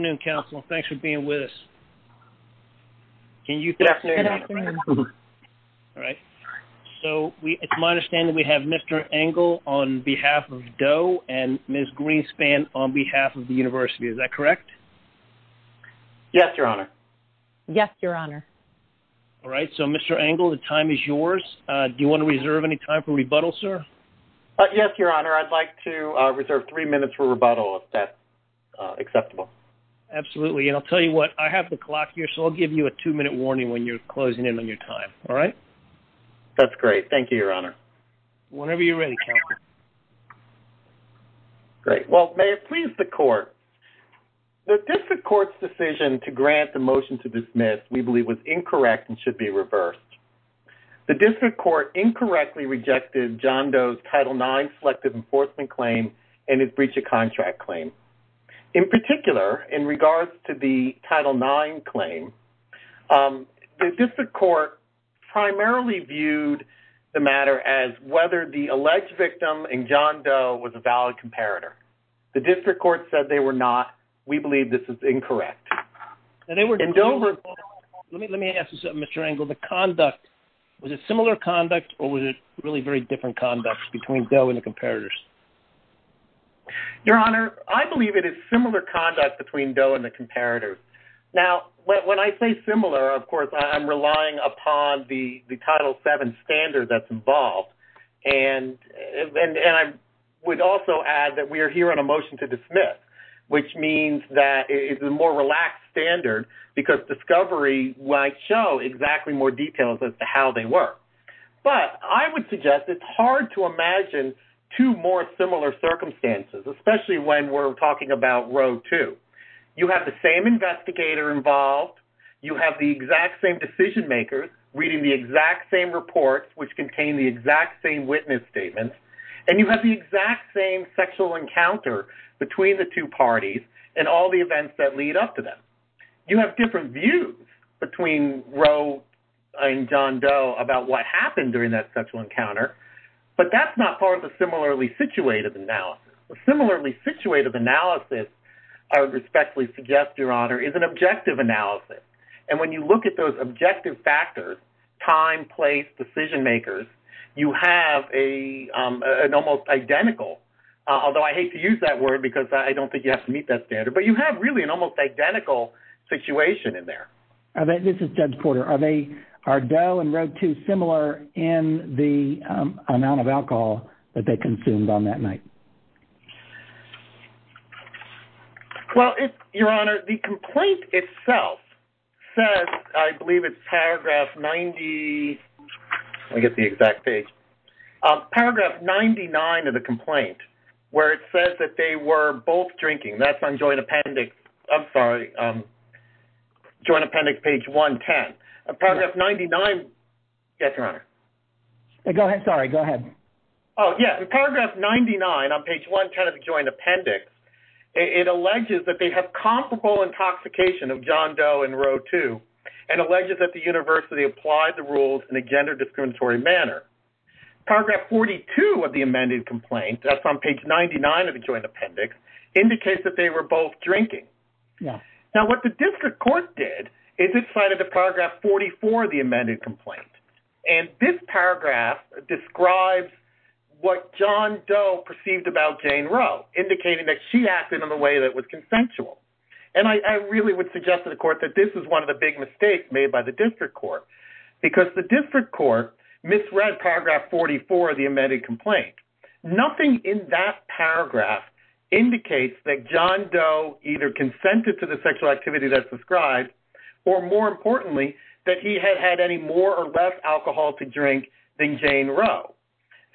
Good afternoon, Counsel. Thanks for being with us. So, it's my understanding we have Mr. Engel on behalf of Doe and Ms. Greenspan on behalf of the University. Is that correct? Yes, Your Honor. Yes, Your Honor. Alright, so Mr. Engel, the time is yours. Do you want to reserve any time for rebuttal, sir? Yes, Your Honor. I'd like to reserve three minutes for rebuttal if that's acceptable. Absolutely. And I'll tell you what, I have the clock here, so I'll give you a two-minute warning when you're closing in on your time. Alright? That's great. Thank you, Your Honor. Whenever you're ready, Counselor. Great. Well, may it please the Court, the District Court's decision to grant the motion to dismiss we believe was incorrect and should be reversed. The District Court incorrectly rejected John Doe's Title IX Selective Enforcement Claim and his Breach of Contract Claim. In particular, in regards to the Title IX Claim, the District Court primarily viewed the matter as whether the alleged victim in John Doe was a valid comparator. The District Court said they were not. We believe this is incorrect. Let me ask you something, Mr. Engel. Was it similar conduct or was it really very different conduct between Doe and the comparators? Your Honor, I believe it is similar conduct between Doe and the comparators. Now, when I say similar, of course, I'm relying upon the Title VII standard that's involved. And I would also add that we are here on a motion to dismiss, which means that it's a more relaxed standard because discovery might show exactly more details as to how they were. But I would suggest it's hard to imagine two more similar circumstances, especially when we're talking about Row 2. You have the same investigator involved. You have the exact same decision makers reading the exact same reports, which contain the exact same witness statements. And you have the exact same sexual encounter between the two parties and all the events that lead up to them. You have different views between Row and John Doe about what happened during that sexual encounter, but that's not part of the similarly situated analysis. A similarly situated analysis, I respectfully suggest, Your Honor, is an objective analysis. And when you look at those objective factors, time, place, decision makers, you have an almost identical, although I hate to use that word because I don't think you have to meet that standard, but you have really an almost identical situation in there. This is Judge Porter. Are Doe and Row 2 similar in the amount of alcohol that they consumed on that night? Well, Your Honor, the complaint itself says, I believe it's paragraph 90, let me get the exact page, paragraph 99 of the complaint, where it says that they were both drinking. That's on Joint Appendix, I'm sorry, Joint Appendix page 110. Paragraph 99, yes, Your Honor. Go ahead, sorry, go ahead. Oh, yeah, in paragraph 99 on page 110 of the Joint Appendix, it alleges that they have comparable intoxication of John Doe and Row 2, and alleges that the university applied the rules in a gender discriminatory manner. Paragraph 42 of the amended complaint, that's on page 99 of the Joint Appendix, indicates that they were both drinking. Now, what the district court did is it cited the paragraph 44 of the amended complaint, and this paragraph describes what John Doe perceived about Jane Row, indicating that she acted in a way that was consensual. And I really would suggest to the court that this is one of the big mistakes made by the district court, because the district court misread paragraph 44 of the amended complaint. Nothing in that paragraph indicates that John Doe either consented to the sexual activity that's described, or more importantly, that he had had any more or less alcohol to drink than Jane Row.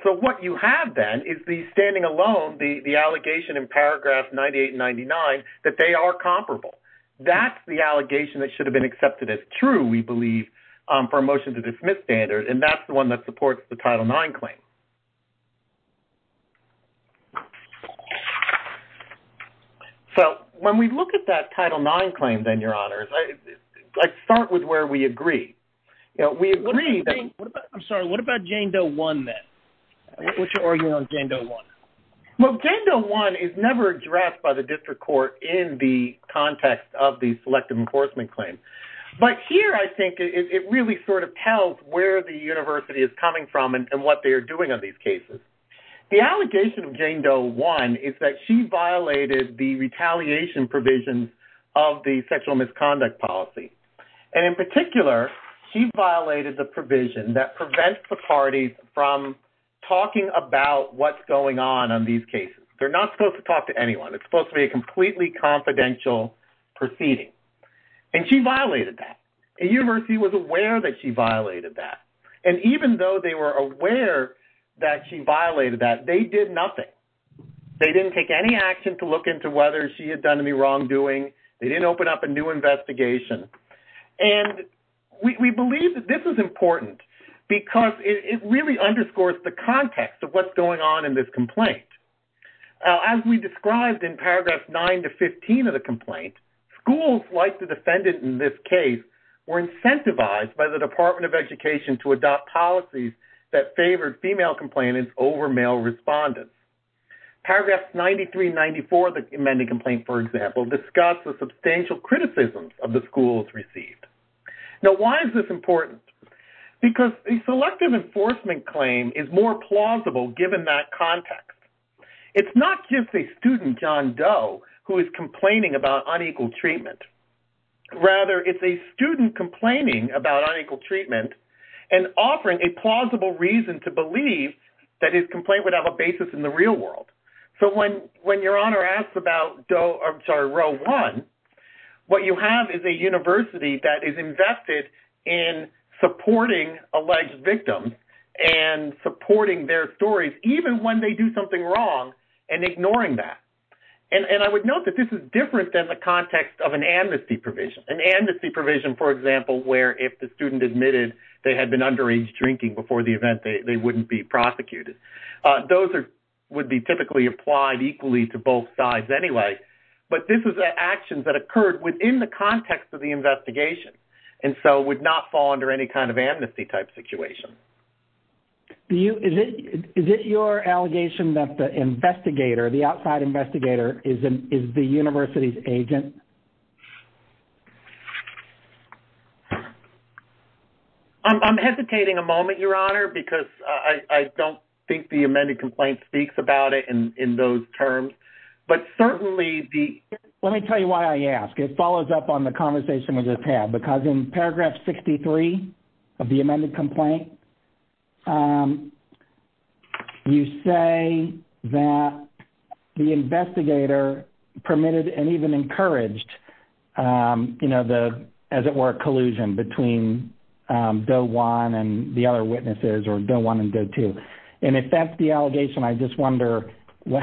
So what you have, then, is the standing alone, the allegation in paragraph 98 and 99 that they are comparable. That's the allegation that should have been accepted as true, we believe, for a motion to dismiss standard, and that's the one that supports the Title IX claim. So when we look at that Title IX claim, then, Your Honors, let's start with where we agree. I'm sorry, what about Jane Doe 1, then? What's your argument on Jane Doe 1? Well, Jane Doe 1 is never addressed by the district court in the context of the selective enforcement claim. But here, I think, it really sort of tells where the university is coming from and what they are doing on these cases. The allegation of Jane Doe 1 is that she violated the retaliation provisions of the sexual misconduct policy. And in particular, she violated the provision that prevents the parties from talking about what's going on on these cases. They're not supposed to talk to anyone. It's supposed to be a completely confidential proceeding. And she violated that. The university was aware that she violated that. And even though they were aware that she violated that, they did nothing. They didn't take any action to look into whether she had done any wrongdoing. They didn't open up a new investigation. And we believe that this is important because it really underscores the context of what's going on in this complaint. As we described in paragraphs 9 to 15 of the complaint, schools, like the defendant in this case, were incentivized by the Department of Education to adopt policies that favored female complainants over male respondents. Paragraphs 93 and 94 of the amending complaint, for example, discuss the substantial criticisms of the schools received. Now, why is this important? Because the selective enforcement claim is more plausible given that context. It's not just a student, John Doe, who is complaining about unequal treatment. Rather, it's a student complaining about unequal treatment and offering a plausible reason to believe that his complaint would have a basis in the real world. So when your honor asks about Roe 1, what you have is a university that is invested in supporting alleged victims and supporting their stories, even when they do something wrong, and ignoring that. And I would note that this is different than the context of an amnesty provision. An amnesty provision, for example, where if the student admitted they had been underage drinking before the event, they wouldn't be prosecuted. Those would be typically applied equally to both sides anyway. But this is actions that occurred within the context of the investigation, and so would not fall under any kind of amnesty type situation. Is it your allegation that the investigator, the outside investigator, is the university's agent? I'm hesitating a moment, your honor, because I don't think the amended complaint speaks about it in those terms. Let me tell you why I ask. It follows up on the conversation we just had, because in paragraph 63 of the amended complaint, you say that the investigator permitted and even encouraged, as it were, collusion between Doe 1 and the other witnesses, or Doe 1 and Doe 2. And if that's the allegation, I just wonder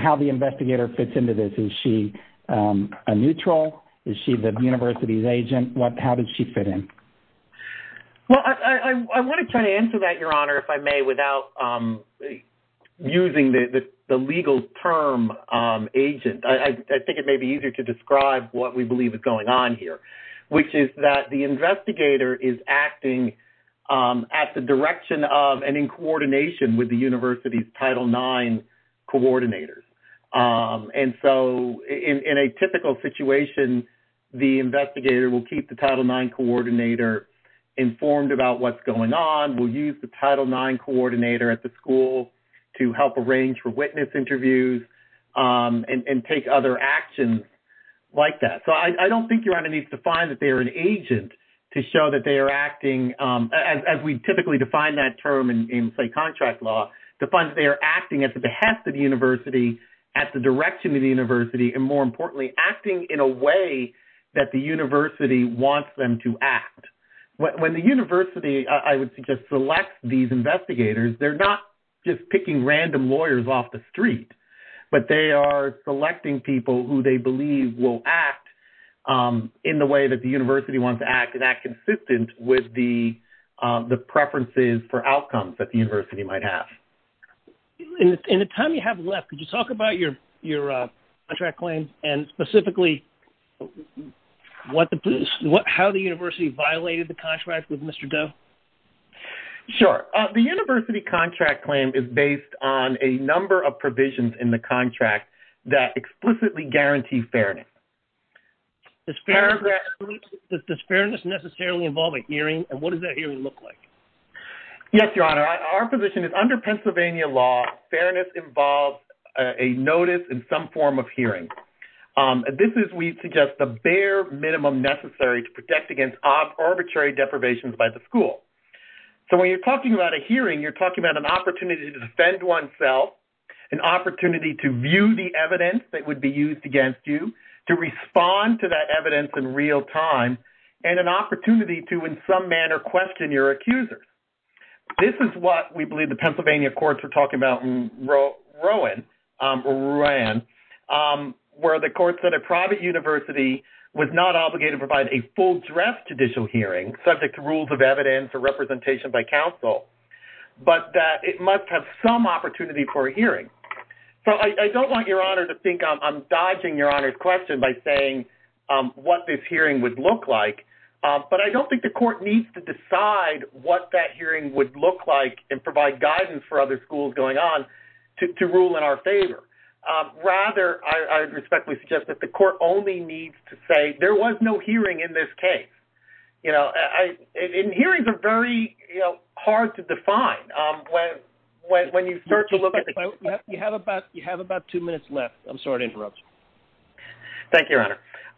how the investigator fits into this. Is she a neutral? Is she the university's agent? How does she fit in? Well, I want to try to answer that, your honor, if I may, without using the legal term agent. I think it may be easier to describe what we believe is going on here, which is that the investigator is acting at the direction of and in coordination with the university's Title IX coordinators. And so, in a typical situation, the investigator will keep the Title IX coordinator informed about what's going on, will use the Title IX coordinator at the school to help arrange for witness interviews, and take other actions like that. So I don't think your honor needs to find that they are an agent to show that they are acting, as we typically define that term in, say, contract law, to find that they are acting at the behest of the university, at the direction of the university, and more importantly, acting in a way that the university wants them to act. When the university, I would suggest, selects these investigators, they're not just picking random lawyers off the street, but they are selecting people who they believe will act in the way that the university wants to act, and act consistent with the preferences for outcomes that the university might have. In the time you have left, could you talk about your contract claim, and specifically how the university violated the contract with Mr. Doe? Sure. The university contract claim is based on a number of provisions in the contract that explicitly guarantee fairness. Does fairness necessarily involve a hearing, and what does that hearing look like? Yes, your honor. Our position is, under Pennsylvania law, fairness involves a notice and some form of hearing. This is, we suggest, the bare minimum necessary to protect against arbitrary deprivations by the school. So when you're talking about a hearing, you're talking about an opportunity to defend oneself, an opportunity to view the evidence that would be used against you, to respond to that evidence in real time, and an opportunity to, in some manner, question your accusers. This is what we believe the Pennsylvania courts were talking about in Rowan, where the courts said a private university was not obligated to provide a full-dress judicial hearing, subject to rules of evidence or representation by counsel, but that it must have some opportunity for a hearing. So I don't want your honor to think I'm dodging your honor's question by saying what this hearing would look like, but I don't think the court needs to decide what that hearing would look like and provide guidance for other schools going on to rule in our favor. Rather, I respectfully suggest that the court only needs to say there was no hearing in this case. You know, and hearings are very hard to define when you start to look at the case. You have about two minutes left. I'm sorry to interrupt. Thank you, your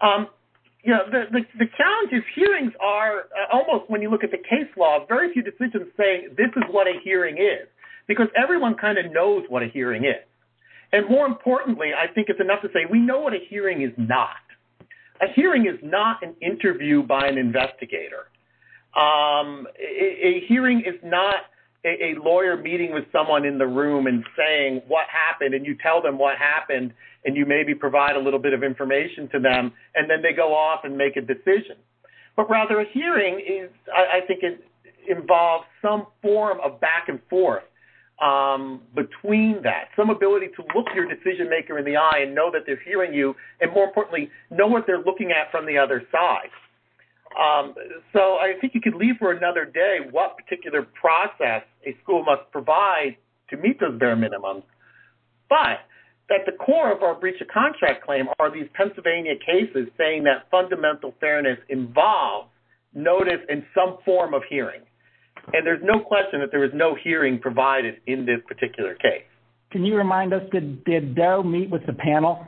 honor. You know, the challenge is hearings are almost, when you look at the case law, very few decisions say this is what a hearing is, because everyone kind of knows what a hearing is. And more importantly, I think it's enough to say we know what a hearing is not. A hearing is not an interview by an investigator. A hearing is not a lawyer meeting with someone in the room and saying what happened, and you tell them what happened, and you maybe provide a little bit of information to them, and then they go off and make a decision. But rather, a hearing, I think, involves some form of back and forth between that, some ability to look your decision-maker in the eye and know that they're hearing you, and more importantly, know what they're looking at from the other side. So I think you could leave for another day what particular process a school must provide to meet those bare minimums, but at the core of our breach of contract claim are these Pennsylvania cases saying that fundamental fairness involves notice and some form of hearing. And there's no question that there is no hearing provided in this particular case. Can you remind us, did Doe meet with the panel?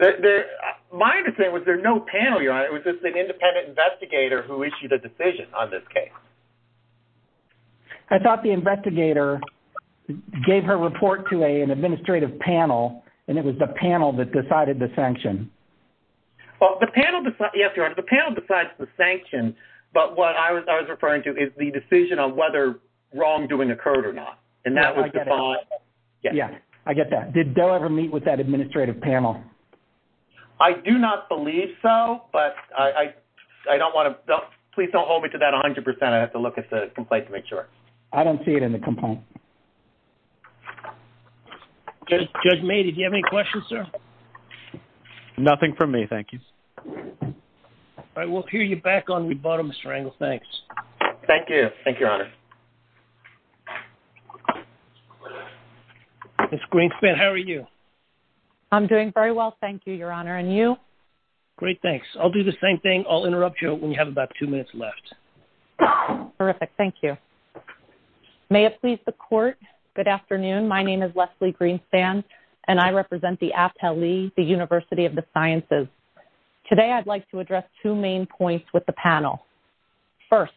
My understanding was there was no panel, Your Honor. It was just an independent investigator who issued a decision on this case. I thought the investigator gave her report to an administrative panel, and it was the panel that decided the sanction. Well, the panel decides the sanction, but what I was referring to is the decision on whether wrongdoing occurred or not. Yeah, I get that. Did Doe ever meet with that administrative panel? I do not believe so, but I don't want to – please don't hold me to that 100%. I have to look at the complaint to make sure. I don't see it in the complaint. Judge May, did you have any questions, sir? Nothing from me, thank you. All right, we'll hear you back on rebuttal, Mr. Engel. Thanks. Thank you. Thank you, Your Honor. Ms. Greenspan, how are you? I'm doing very well, thank you, Your Honor. And you? Great, thanks. I'll do the same thing. I'll interrupt you when you have about two minutes left. Terrific, thank you. May it please the Court, good afternoon. My name is Leslie Greenspan, and I represent the APTLE, the University of the Sciences. Today, I'd like to address two main points with the panel. First,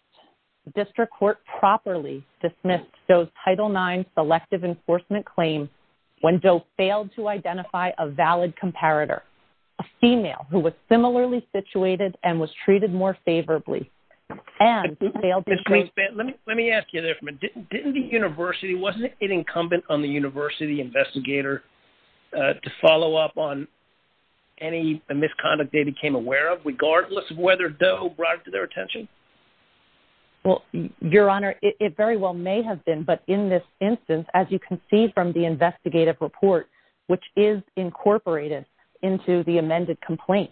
the district court properly dismissed Doe's Title IX selective enforcement claim when Doe failed to identify a valid comparator, a female who was similarly situated and was treated more favorably, and who failed to – Ms. Greenspan, let me ask you this. Didn't the university – wasn't it incumbent on the university investigator to follow up on any misconduct they became aware of, regardless of whether Doe brought it to their attention? Well, Your Honor, it very well may have been, but in this instance, as you can see from the investigative report, which is incorporated into the amended complaint,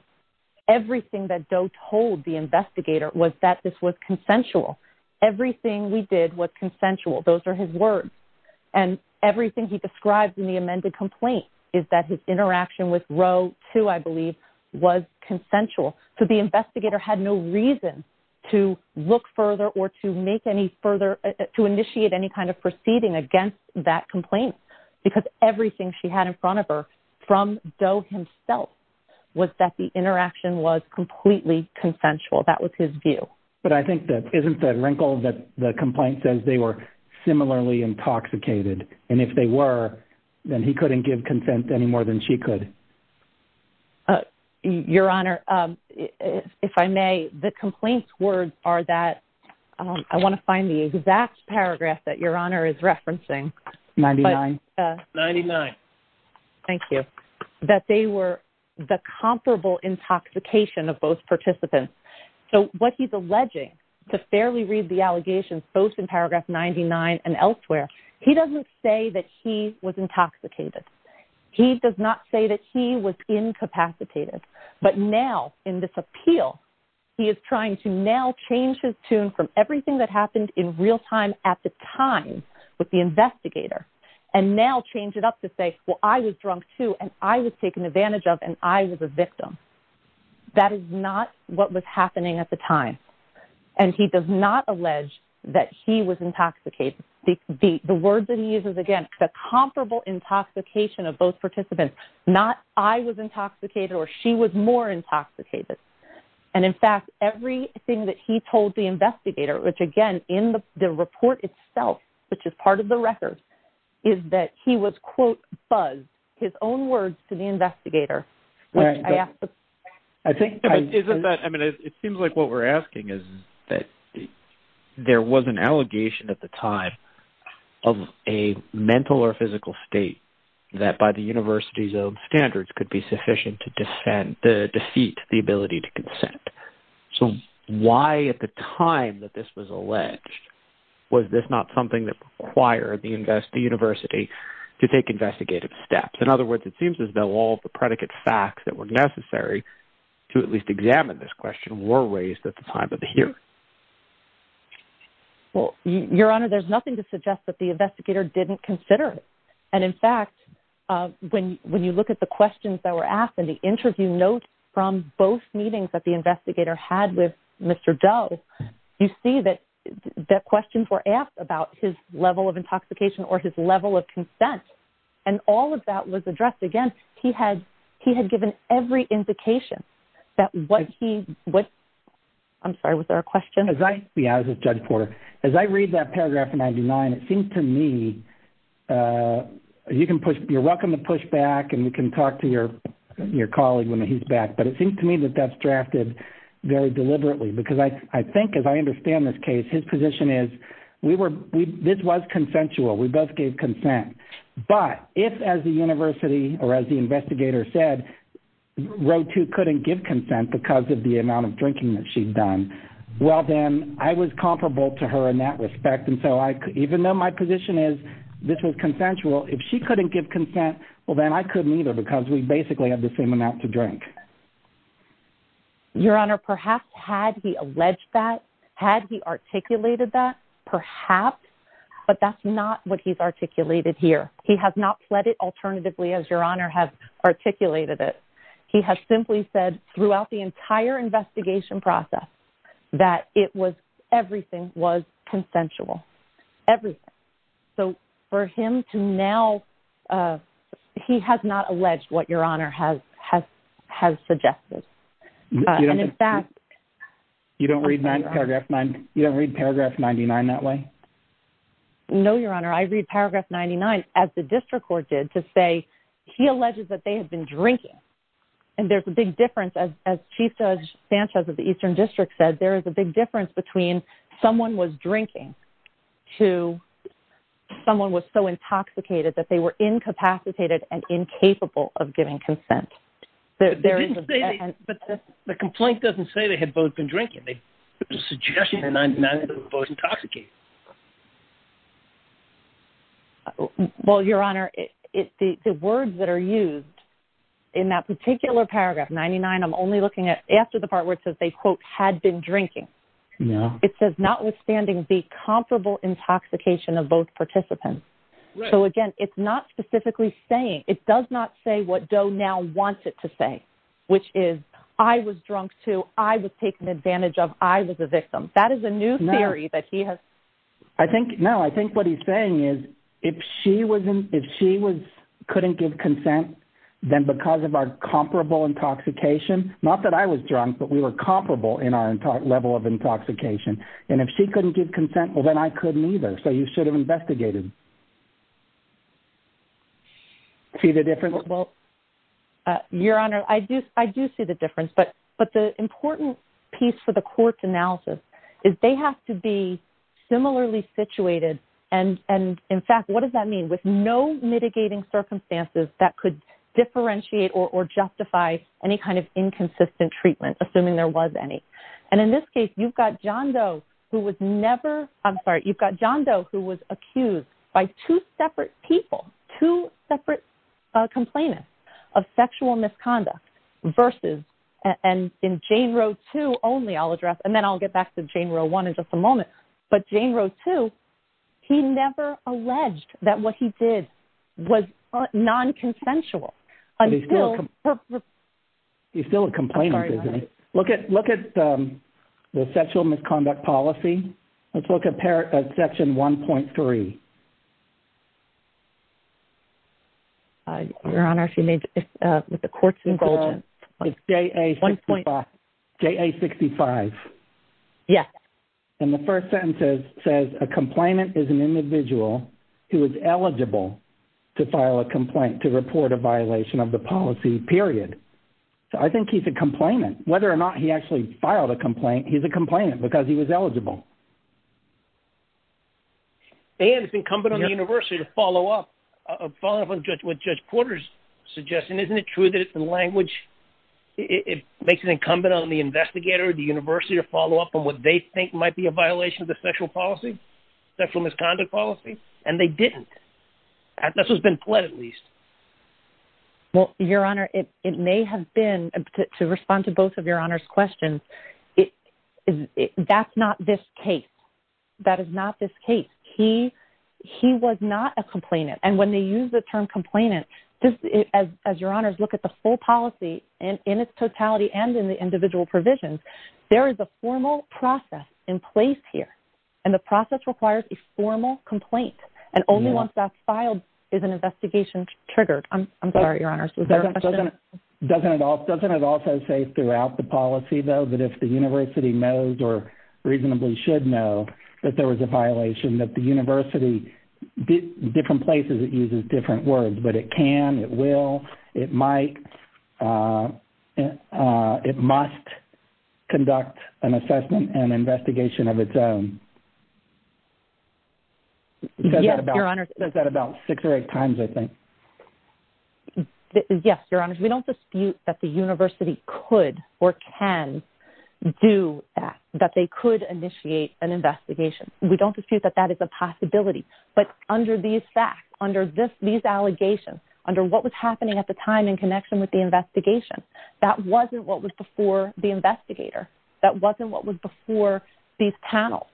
everything that Doe told the investigator was that this was consensual. Everything we did was consensual. Those are his words. And everything he describes in the amended complaint is that his interaction with Roe II, I believe, was consensual. So the investigator had no reason to look further or to make any further – to initiate any kind of proceeding against that complaint, because everything she had in front of her from Doe himself was that the interaction was completely consensual. That was his view. But I think that – isn't that wrinkle that the complaint says they were similarly intoxicated? And if they were, then he couldn't give consent any more than she could. Your Honor, if I may, the complaint's words are that – I want to find the exact paragraph that Your Honor is referencing. Ninety-nine. Ninety-nine. Thank you. That they were the comparable intoxication of both participants. So what he's alleging, to fairly read the allegations, both in paragraph 99 and elsewhere, he doesn't say that he was intoxicated. He does not say that he was incapacitated. But now, in this appeal, he is trying to now change his tune from everything that happened in real time at the time with the investigator, and now change it up to say, well, I was drunk too, and I was taken advantage of, and I was a victim. That is not what was happening at the time. And he does not allege that he was intoxicated. The words that he uses, again, the comparable intoxication of both participants, not I was intoxicated or she was more intoxicated. And, in fact, everything that he told the investigator, which, again, in the report itself, which is part of the record, is that he was, quote, buzzed, his own words to the investigator. I think, isn't that, I mean, it seems like what we're asking is that there was an allegation at the time of a mental or physical state that, by the university's own standards, could be sufficient to defeat the ability to consent. So why, at the time that this was alleged, was this not something that required the university to take investigative steps? In other words, it seems as though all the predicate facts that were necessary to at least examine this question were raised at the time of the hearing. Well, Your Honor, there's nothing to suggest that the investigator didn't consider it. And, in fact, when you look at the questions that were asked in the interview notes from both meetings that the investigator had with Mr. Doe, you see that questions were asked about his level of intoxication or his level of consent, and all of that was addressed. Again, he had given every indication that what he, what, I'm sorry, was there a question? Yeah, I was with Judge Porter. As I read that paragraph in 99, it seems to me, you can push, you're welcome to push back and you can talk to your colleague when he's back, but it seems to me that that's drafted very deliberately because I think, as I understand this case, his position is, we were, this was consensual. We both gave consent. But if, as the university, or as the investigator said, Roe too couldn't give consent because of the amount of drinking that she'd done, well, then I was comparable to her in that respect, and so I, even though my position is this was consensual, if she couldn't give consent, well, then I couldn't either because we basically had the same amount to drink. Your Honor, perhaps had he alleged that, had he articulated that, perhaps, but that's not what he's articulated here. He has not pled it alternatively as Your Honor has articulated it. He has simply said throughout the entire investigation process that it was, everything was consensual, everything. So for him to now, he has not alleged what Your Honor has suggested. You don't read paragraph 99 that way? No, Your Honor, I read paragraph 99 as the district court did to say he alleges that they had been drinking. And there's a big difference, as Chief Judge Sanchez of the Eastern District said, there is a big difference between someone was drinking to someone was so intoxicated that they were incapacitated and incapable of giving consent. But the complaint doesn't say they had both been drinking. The suggestion in 99 is that they were both intoxicated. Well, Your Honor, the words that are used in that particular paragraph 99, I'm only looking at after the part where it says they, quote, had been drinking. It says notwithstanding the comparable intoxication of both participants. So, again, it's not specifically saying it does not say what Doe now wants it to say, which is I was drunk too. I was taken advantage of. I was a victim. That is a new theory that he has. I think now I think what he's saying is if she was if she was couldn't give consent, then because of our comparable intoxication, not that I was drunk, but we were comparable in our level of intoxication. And if she couldn't give consent, well, then I couldn't either. So you should have investigated. See the difference? Well, Your Honor, I do. I do see the difference. But but the important piece for the court's analysis is they have to be similarly situated. And and in fact, what does that mean? With no mitigating circumstances that could differentiate or justify any kind of inconsistent treatment, assuming there was any. And in this case, you've got John Doe who was never I'm sorry. You've got John Doe who was accused by two separate people, two separate complainants of sexual misconduct versus and in Jane Roe to only I'll address and then I'll get back to Jane Roe one in just a moment. But Jane Roe to he never alleged that what he did was non consensual. He's still a complainant. Look at look at the sexual misconduct policy. Let's look at Section 1.3. Your Honor, she made the court's involvement. One point J.A. sixty five. Yes. And the first sentence says a complainant is an individual who is eligible to file a complaint to report a violation of the policy period. I think he's a complainant whether or not he actually filed a complaint. He's a complainant because he was eligible. And it's incumbent on the university to follow up, follow up with Judge Porter's suggestion. Isn't it true that it's the language it makes it incumbent on the investigator, the university to follow up on what they think might be a violation of the sexual policy, sexual misconduct policy? And they didn't. This has been pled at least. Well, Your Honor, it may have been to respond to both of your honors questions. That's not this case. That is not this case. He he was not a complainant. And when they use the term complainant as your honors look at the full policy and in its totality and in the individual provisions, there is a formal process in place here. And the process requires a formal complaint. And only once that's filed is an investigation triggered. I'm sorry, Your Honor. Doesn't it doesn't it also say throughout the policy, though, that if the university knows or reasonably should know that there was a violation that the university different places, it uses different words, but it can. It will. It might. It must conduct an assessment and investigation of its own. Yes, Your Honor. Does that about six or eight times? I think. Yes, Your Honor. We don't dispute that the university could or can do that, that they could initiate an investigation. We don't dispute that. That is a possibility. But under these facts, under this, these allegations under what was happening at the time in connection with the investigation, that wasn't what was before the investigator. That wasn't what was before these panels.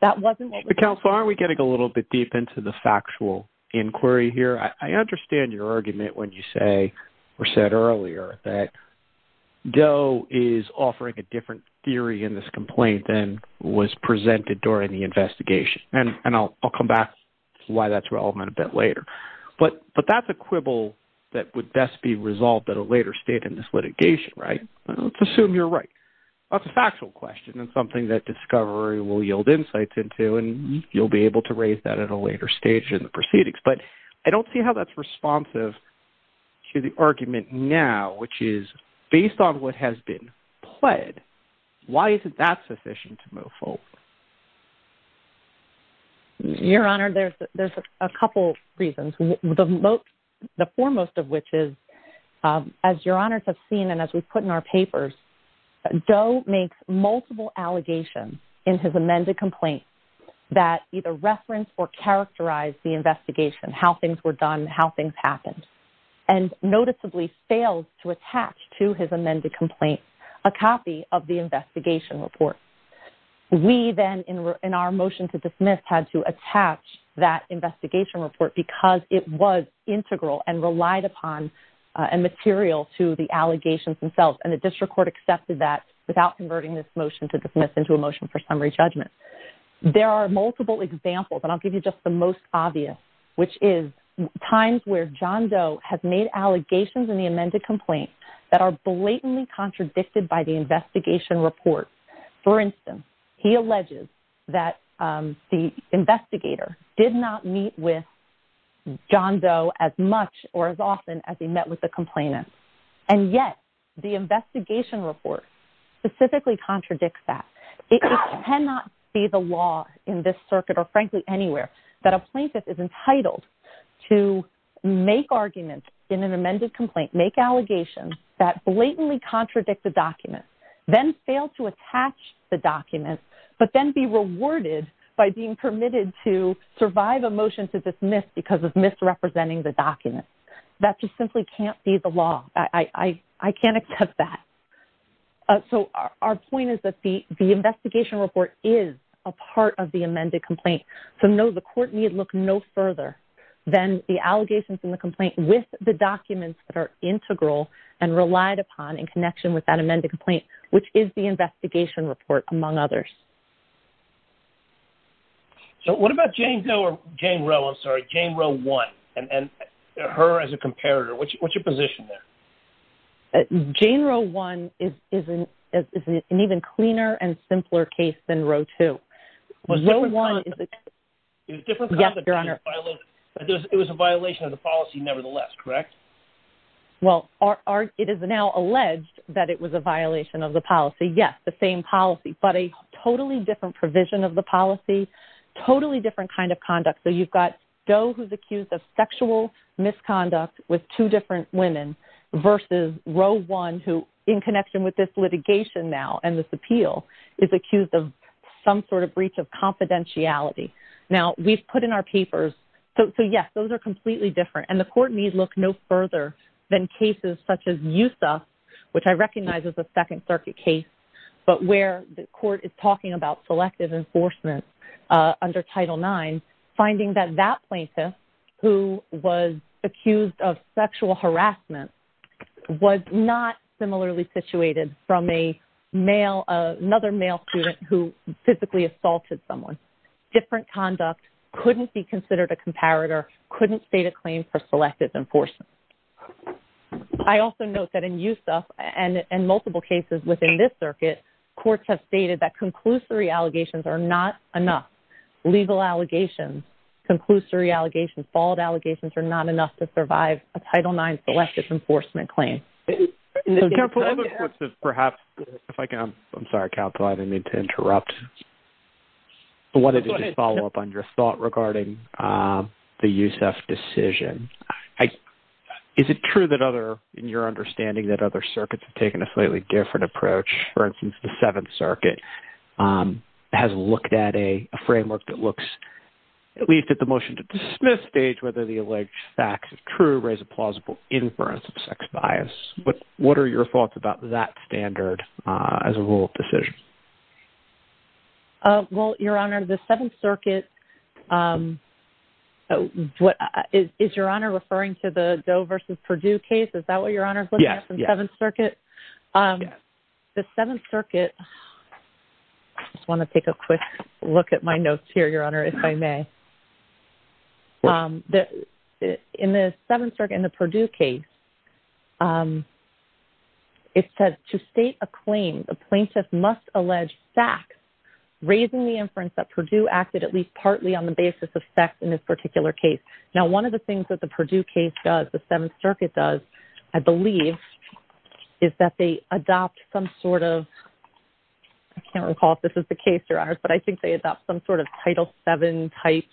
That wasn't the counsel. Are we getting a little bit deep into the factual inquiry here? I understand your argument when you say or said earlier that Joe is offering a different theory in this complaint than was presented during the investigation. And I'll come back to why that's relevant a bit later. But but that's a quibble that would best be resolved at a later state in this litigation. Right. Let's assume you're right. That's a factual question and something that discovery will yield insights into. And you'll be able to raise that at a later stage in the proceedings. But I don't see how that's responsive to the argument now, which is based on what has been pled. Why isn't that sufficient to move forward? Your Honor, there's a couple reasons. The foremost of which is, as your honors have seen and as we put in our papers, Joe makes multiple allegations in his amended complaint that either reference or characterize the investigation, how things were done, how things happened. And noticeably failed to attach to his amended complaint a copy of the investigation report. We then, in our motion to dismiss, had to attach that investigation report because it was integral and relied upon and material to the allegations themselves. And the district court accepted that without converting this motion to dismiss into a motion for summary judgment. There are multiple examples, and I'll give you just the most obvious, which is times where John Doe has made allegations in the amended complaint that are blatantly contradicted by the investigation report. For instance, he alleges that the investigator did not meet with John Doe as much or as often as he met with the complainant. And yet, the investigation report specifically contradicts that. It cannot be the law in this circuit or frankly anywhere that a plaintiff is entitled to make arguments in an amended complaint, make allegations that blatantly contradict the document, then fail to attach the document, but then be rewarded by being permitted to survive a motion to dismiss because of misrepresenting the document. That just simply can't be the law. I can't accept that. So, our point is that the investigation report is a part of the amended complaint. So, no, the court need look no further than the allegations in the complaint with the documents that are integral and relied upon in connection with that amended complaint, which is the investigation report, among others. So, what about Jane Doe or Jane Roe, I'm sorry, Jane Roe 1, and her as a comparator? What's your position there? Jane Roe 1 is an even cleaner and simpler case than Roe 2. It was a violation of the policy nevertheless, correct? Well, it is now alleged that it was a violation of the policy. Yes, the same policy, but a totally different provision of the policy, totally different kind of conduct. So, you've got Doe who's accused of sexual misconduct with two different women versus Roe 1 who, in connection with this litigation now and this appeal, is accused of some sort of breach of confidentiality. Now, we've put in our papers. So, yes, those are completely different, and the court need look no further than cases such as USA, which I recognize is a Second Circuit case, but where the court is talking about selective enforcement under Title IX. And finding that that plaintiff, who was accused of sexual harassment, was not similarly situated from another male student who physically assaulted someone. Different conduct, couldn't be considered a comparator, couldn't state a claim for selective enforcement. I also note that in USA and multiple cases within this circuit, courts have stated that conclusory allegations are not enough. Legal allegations, conclusory allegations, fault allegations are not enough to survive a Title IX selective enforcement claim. So, counsel, perhaps, if I can, I'm sorry, counsel, I didn't mean to interrupt. I wanted to just follow up on your thought regarding the USEF decision. Is it true that other, in your understanding, that other circuits have taken a slightly different approach? For instance, the Seventh Circuit has looked at a framework that looks, at least at the motion to dismiss stage, whether the alleged facts are true, raise a plausible inference of sex bias. What are your thoughts about that standard as a rule of decision? Well, Your Honor, the Seventh Circuit, is Your Honor referring to the Doe versus Perdue case? Is that what Your Honor is looking at from Seventh Circuit? Yes, yes. The Seventh Circuit, I just want to take a quick look at my notes here, Your Honor, if I may. In the Seventh Circuit, in the Perdue case, it says, to state a claim, a plaintiff must allege sex, raising the inference that Perdue acted at least partly on the basis of sex in this particular case. Now, one of the things that the Perdue case does, the Seventh Circuit does, I believe, is that they adopt some sort of, I can't recall if this is the case, Your Honor, but I think they adopt some sort of Title VII type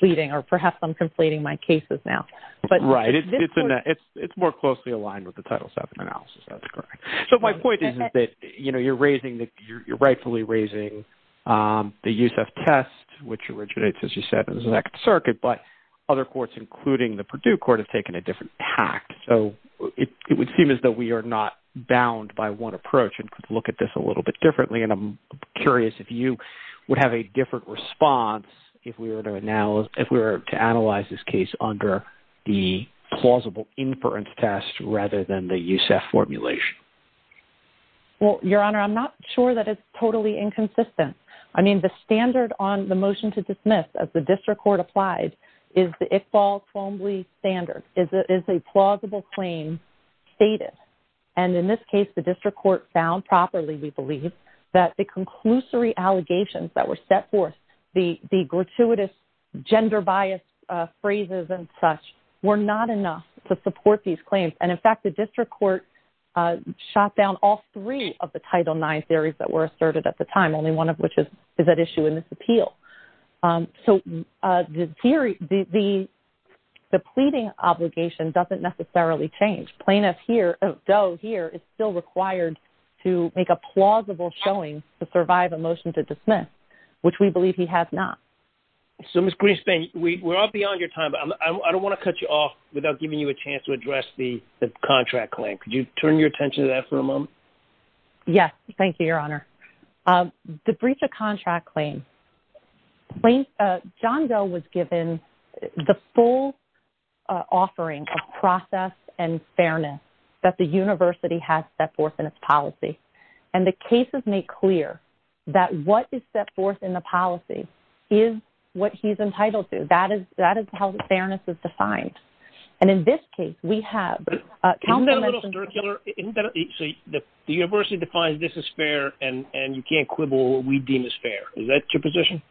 pleading, or perhaps I'm conflating my cases now. Right, it's more closely aligned with the Title VII analysis, that's correct. So my point is that, you know, you're raising, you're rightfully raising the USEF test, which originates, as you said, in the Seventh Circuit, but other courts, including the Perdue court, have taken a different tact. So it would seem as though we are not bound by one approach and could look at this a little bit differently, and I'm curious if you would have a different response if we were to analyze this case under the plausible inference test rather than the USEF formulation. Well, Your Honor, I'm not sure that it's totally inconsistent. I mean, the standard on the motion to dismiss, as the district court applied, is the Iqbal-Colombi standard, is a plausible claim stated. And in this case, the district court found properly, we believe, that the conclusory allegations that were set forth, the gratuitous gender bias phrases and such, were not enough to support these claims. And in fact, the district court shot down all three of the Title IX theories that were asserted at the time, only one of which is at issue in this appeal. So the pleading obligation doesn't necessarily change. Plaintiff here, though here, is still required to make a plausible showing to survive a motion to dismiss, which we believe he has not. So, Ms. Greenspan, we're all beyond your time, but I don't want to cut you off without giving you a chance to address the contract claim. Could you turn your attention to that for a moment? Yes, thank you, Your Honor. The breach of contract claim. John Doe was given the full offering of process and fairness that the university has set forth in its policy. And the cases make clear that what is set forth in the policy is what he's entitled to. That is how fairness is defined. And in this case, we have... So the university defines this as fair, and you can't quibble what we deem as fair. Is that your position?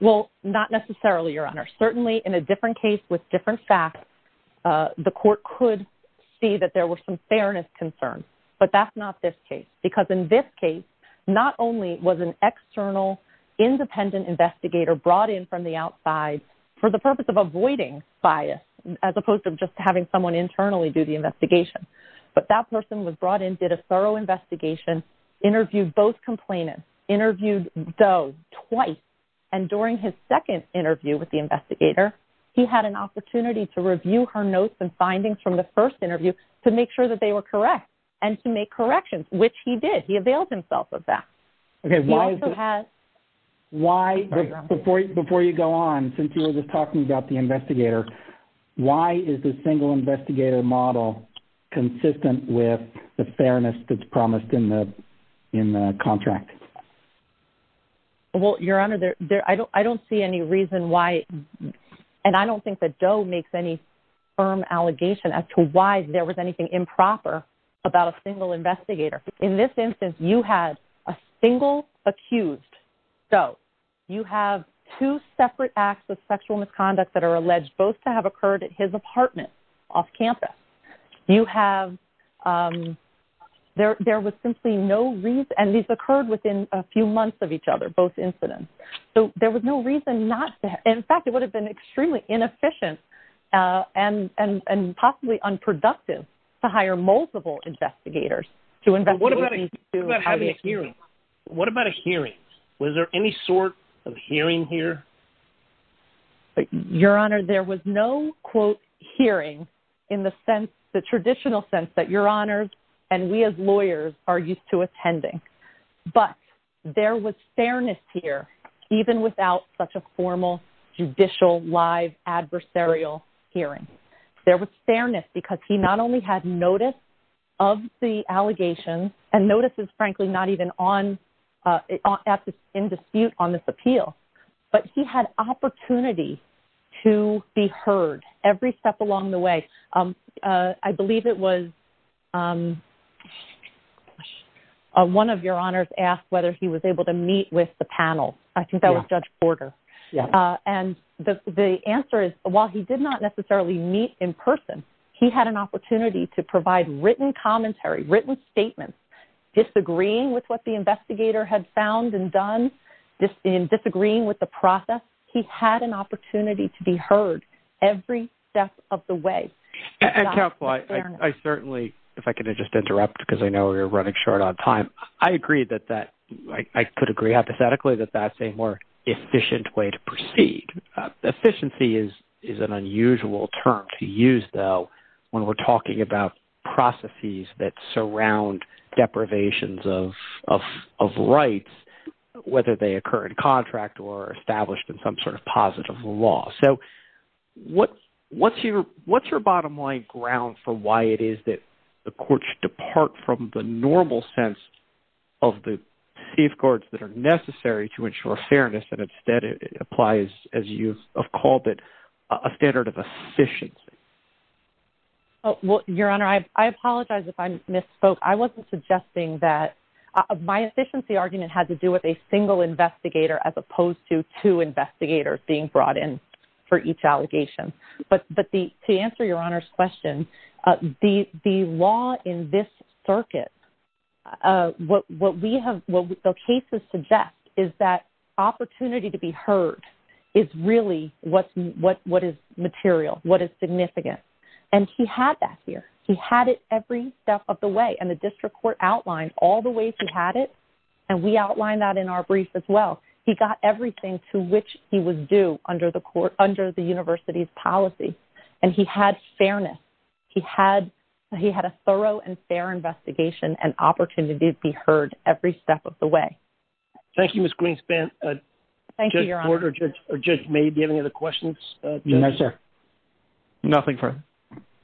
Well, not necessarily, Your Honor. Certainly, in a different case with different facts, the court could see that there was some fairness concern. But that's not this case. Because in this case, not only was an external, independent investigator brought in from the outside for the purpose of avoiding bias, as opposed to just having someone internally do the investigation. But that person was brought in, did a thorough investigation, interviewed both complainants, interviewed Doe twice. And during his second interview with the investigator, he had an opportunity to review her notes and findings from the first interview to make sure that they were correct. And to make corrections, which he did. He availed himself of that. He also had... Before you go on, since you were just talking about the investigator, why is the single investigator model consistent with the fairness that's promised in the contract? Well, Your Honor, I don't see any reason why, and I don't think that Doe makes any firm allegation as to why there was anything improper about a single investigator. In this instance, you had a single accused Doe. You have two separate acts of sexual misconduct that are alleged both to have occurred at his apartment off campus. You have... There was simply no reason... And these occurred within a few months of each other, both incidents. So there was no reason not to... In fact, it would have been extremely inefficient and possibly unproductive to hire multiple investigators to investigate these two... What about having a hearing? What about a hearing? Was there any sort of hearing here? Your Honor, there was no, quote, hearing in the traditional sense that Your Honors and we as lawyers are used to attending. But there was fairness here, even without such a formal, judicial, live, adversarial hearing. There was fairness because he not only had notice of the allegations, and notices, frankly, not even in dispute on this appeal, but he had opportunity to be heard every step along the way. I believe it was... One of Your Honors asked whether he was able to meet with the panel. I think that was Judge Porter. And the answer is, while he did not necessarily meet in person, he had an opportunity to provide written commentary, written statements, disagreeing with what the investigator had found and done, and disagreeing with the process. He had an opportunity to be heard every step of the way. And, Counselor, I certainly, if I could just interrupt because I know we're running short on time. I agree that that...I could agree hypothetically that that's a more efficient way to proceed. Efficiency is an unusual term to use, though, when we're talking about processes that surround deprivations of rights, whether they occur in contract or established in some sort of positive law. So what's your bottom line ground for why it is that the courts depart from the normal sense of the safeguards that are necessary to ensure fairness, and instead it applies, as you have called it, a standard of efficiency? Your Honor, I apologize if I misspoke. I wasn't suggesting that...my efficiency argument had to do with a single investigator as opposed to two investigators being brought in for each allegation. But to answer Your Honor's question, the law in this circuit, what we have...what the cases suggest is that opportunity to be heard is really what is material, what is significant. And he had that here. He had it every step of the way. And the district court outlined all the ways he had it, and we outlined that in our brief as well. He got everything to which he was due under the university's policy. And he had fairness. He had a thorough and fair investigation and opportunity to be heard every step of the way. Thank you, Ms. Greenspan. Thank you, Your Honor. Judge Ford or Judge May, do you have any other questions? No, sir. Nothing further.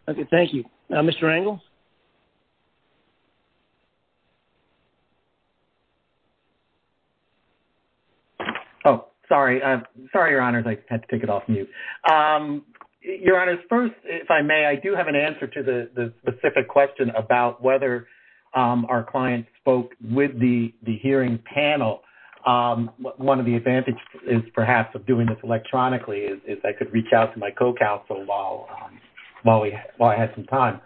Okay, thank you. Mr. Angle? Oh, sorry. Sorry, Your Honors. I had to take it off mute. Your Honors, first, if I may, I do have an answer to the specific question about whether our client spoke with the hearing panel. One of the advantages, perhaps, of doing this electronically is I could reach out to my co-counsel while I had some time.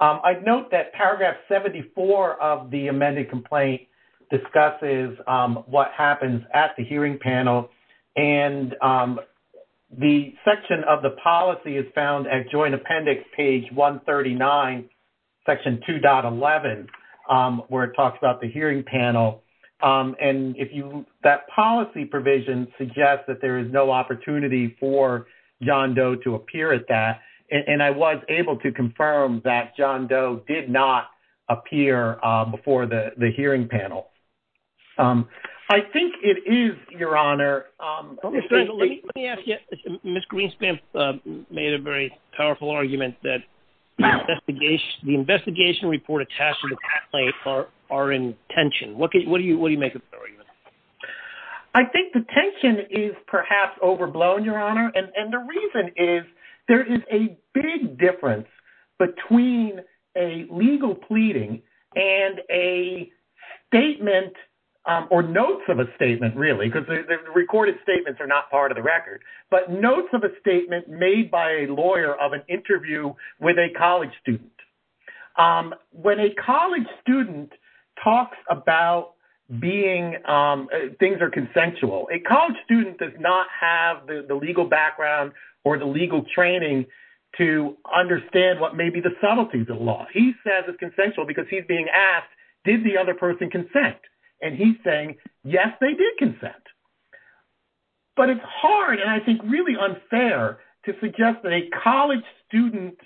I'd note that paragraph 74 of the amended complaint discusses what happens at the hearing panel. And the section of the policy is found at joint appendix page 139, section 2.11, where it talks about the hearing panel. And that policy provision suggests that there is no opportunity for John Doe to appear at that. And I was able to confirm that John Doe did not appear before the hearing panel. I think it is, Your Honor. Mr. Angle, let me ask you. Ms. Greenspan made a very powerful argument that the investigation report attached to the complaint are in tension. What do you make of that argument? I think the tension is perhaps overblown, Your Honor. And the reason is there is a big difference between a legal pleading and a statement or notes of a statement, really, because the recorded statements are not part of the record, but notes of a statement made by a lawyer of an interview with a college student. When a college student talks about being – things are consensual. A college student does not have the legal background or the legal training to understand what may be the subtleties of the law. He says it's consensual because he's being asked, did the other person consent? And he's saying, yes, they did consent. But it's hard and I think really unfair to suggest that a college student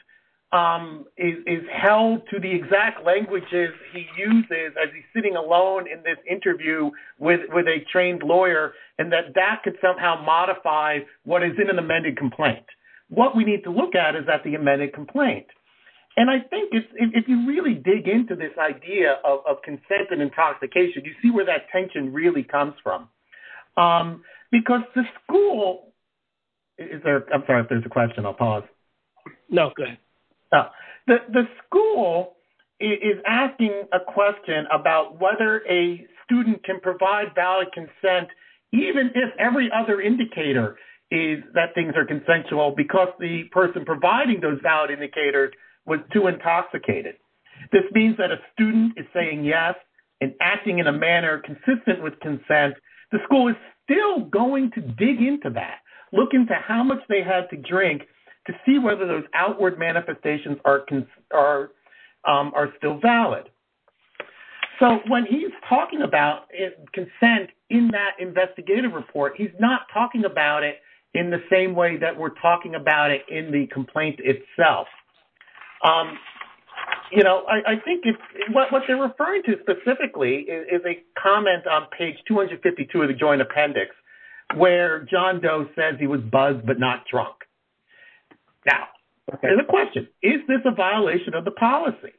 is held to the exact languages he uses as he's sitting alone in this interview with a trained lawyer and that that could somehow modify what is in an amended complaint. What we need to look at is that the amended complaint. And I think if you really dig into this idea of consent and intoxication, you see where that tension really comes from. Because the school – I'm sorry, if there's a question, I'll pause. No, go ahead. The school is asking a question about whether a student can provide valid consent even if every other indicator is that things are consensual because the person providing those valid indicators was too intoxicated. This means that a student is saying yes and acting in a manner consistent with consent. The school is still going to dig into that, look into how much they had to drink to see whether those outward manifestations are still valid. So when he's talking about consent in that investigative report, he's not talking about it in the same way that we're talking about it in the complaint itself. You know, I think what they're referring to specifically is a comment on page 252 of the joint appendix where John Doe says he was buzzed but not drunk. Now, the question, is this a violation of the policy?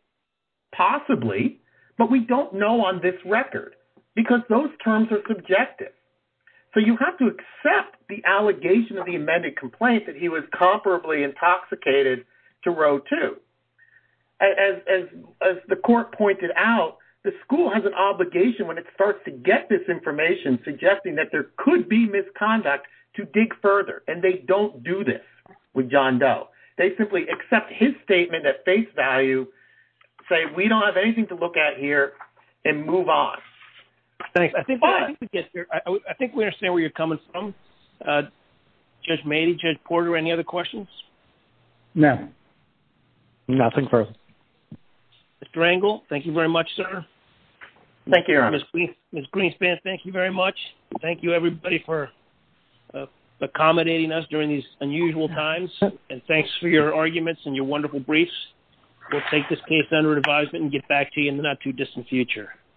Possibly, but we don't know on this record because those terms are subjective. So you have to accept the allegation of the amended complaint that he was comparably intoxicated to row two. As the court pointed out, the school has an obligation when it starts to get this information, suggesting that there could be misconduct, to dig further. And they don't do this with John Doe. They simply accept his statement at face value, say we don't have anything to look at here, and move on. Thanks. I think we understand where you're coming from. Judge Mady, Judge Porter, any other questions? No. Nothing further. Mr. Angle, thank you very much, sir. Thank you, Your Honor. Ms. Greenspan, thank you very much. Thank you, everybody, for accommodating us during these unusual times. And thanks for your arguments and your wonderful briefs. We'll take this case under advisement and get back to you in the not too distant future.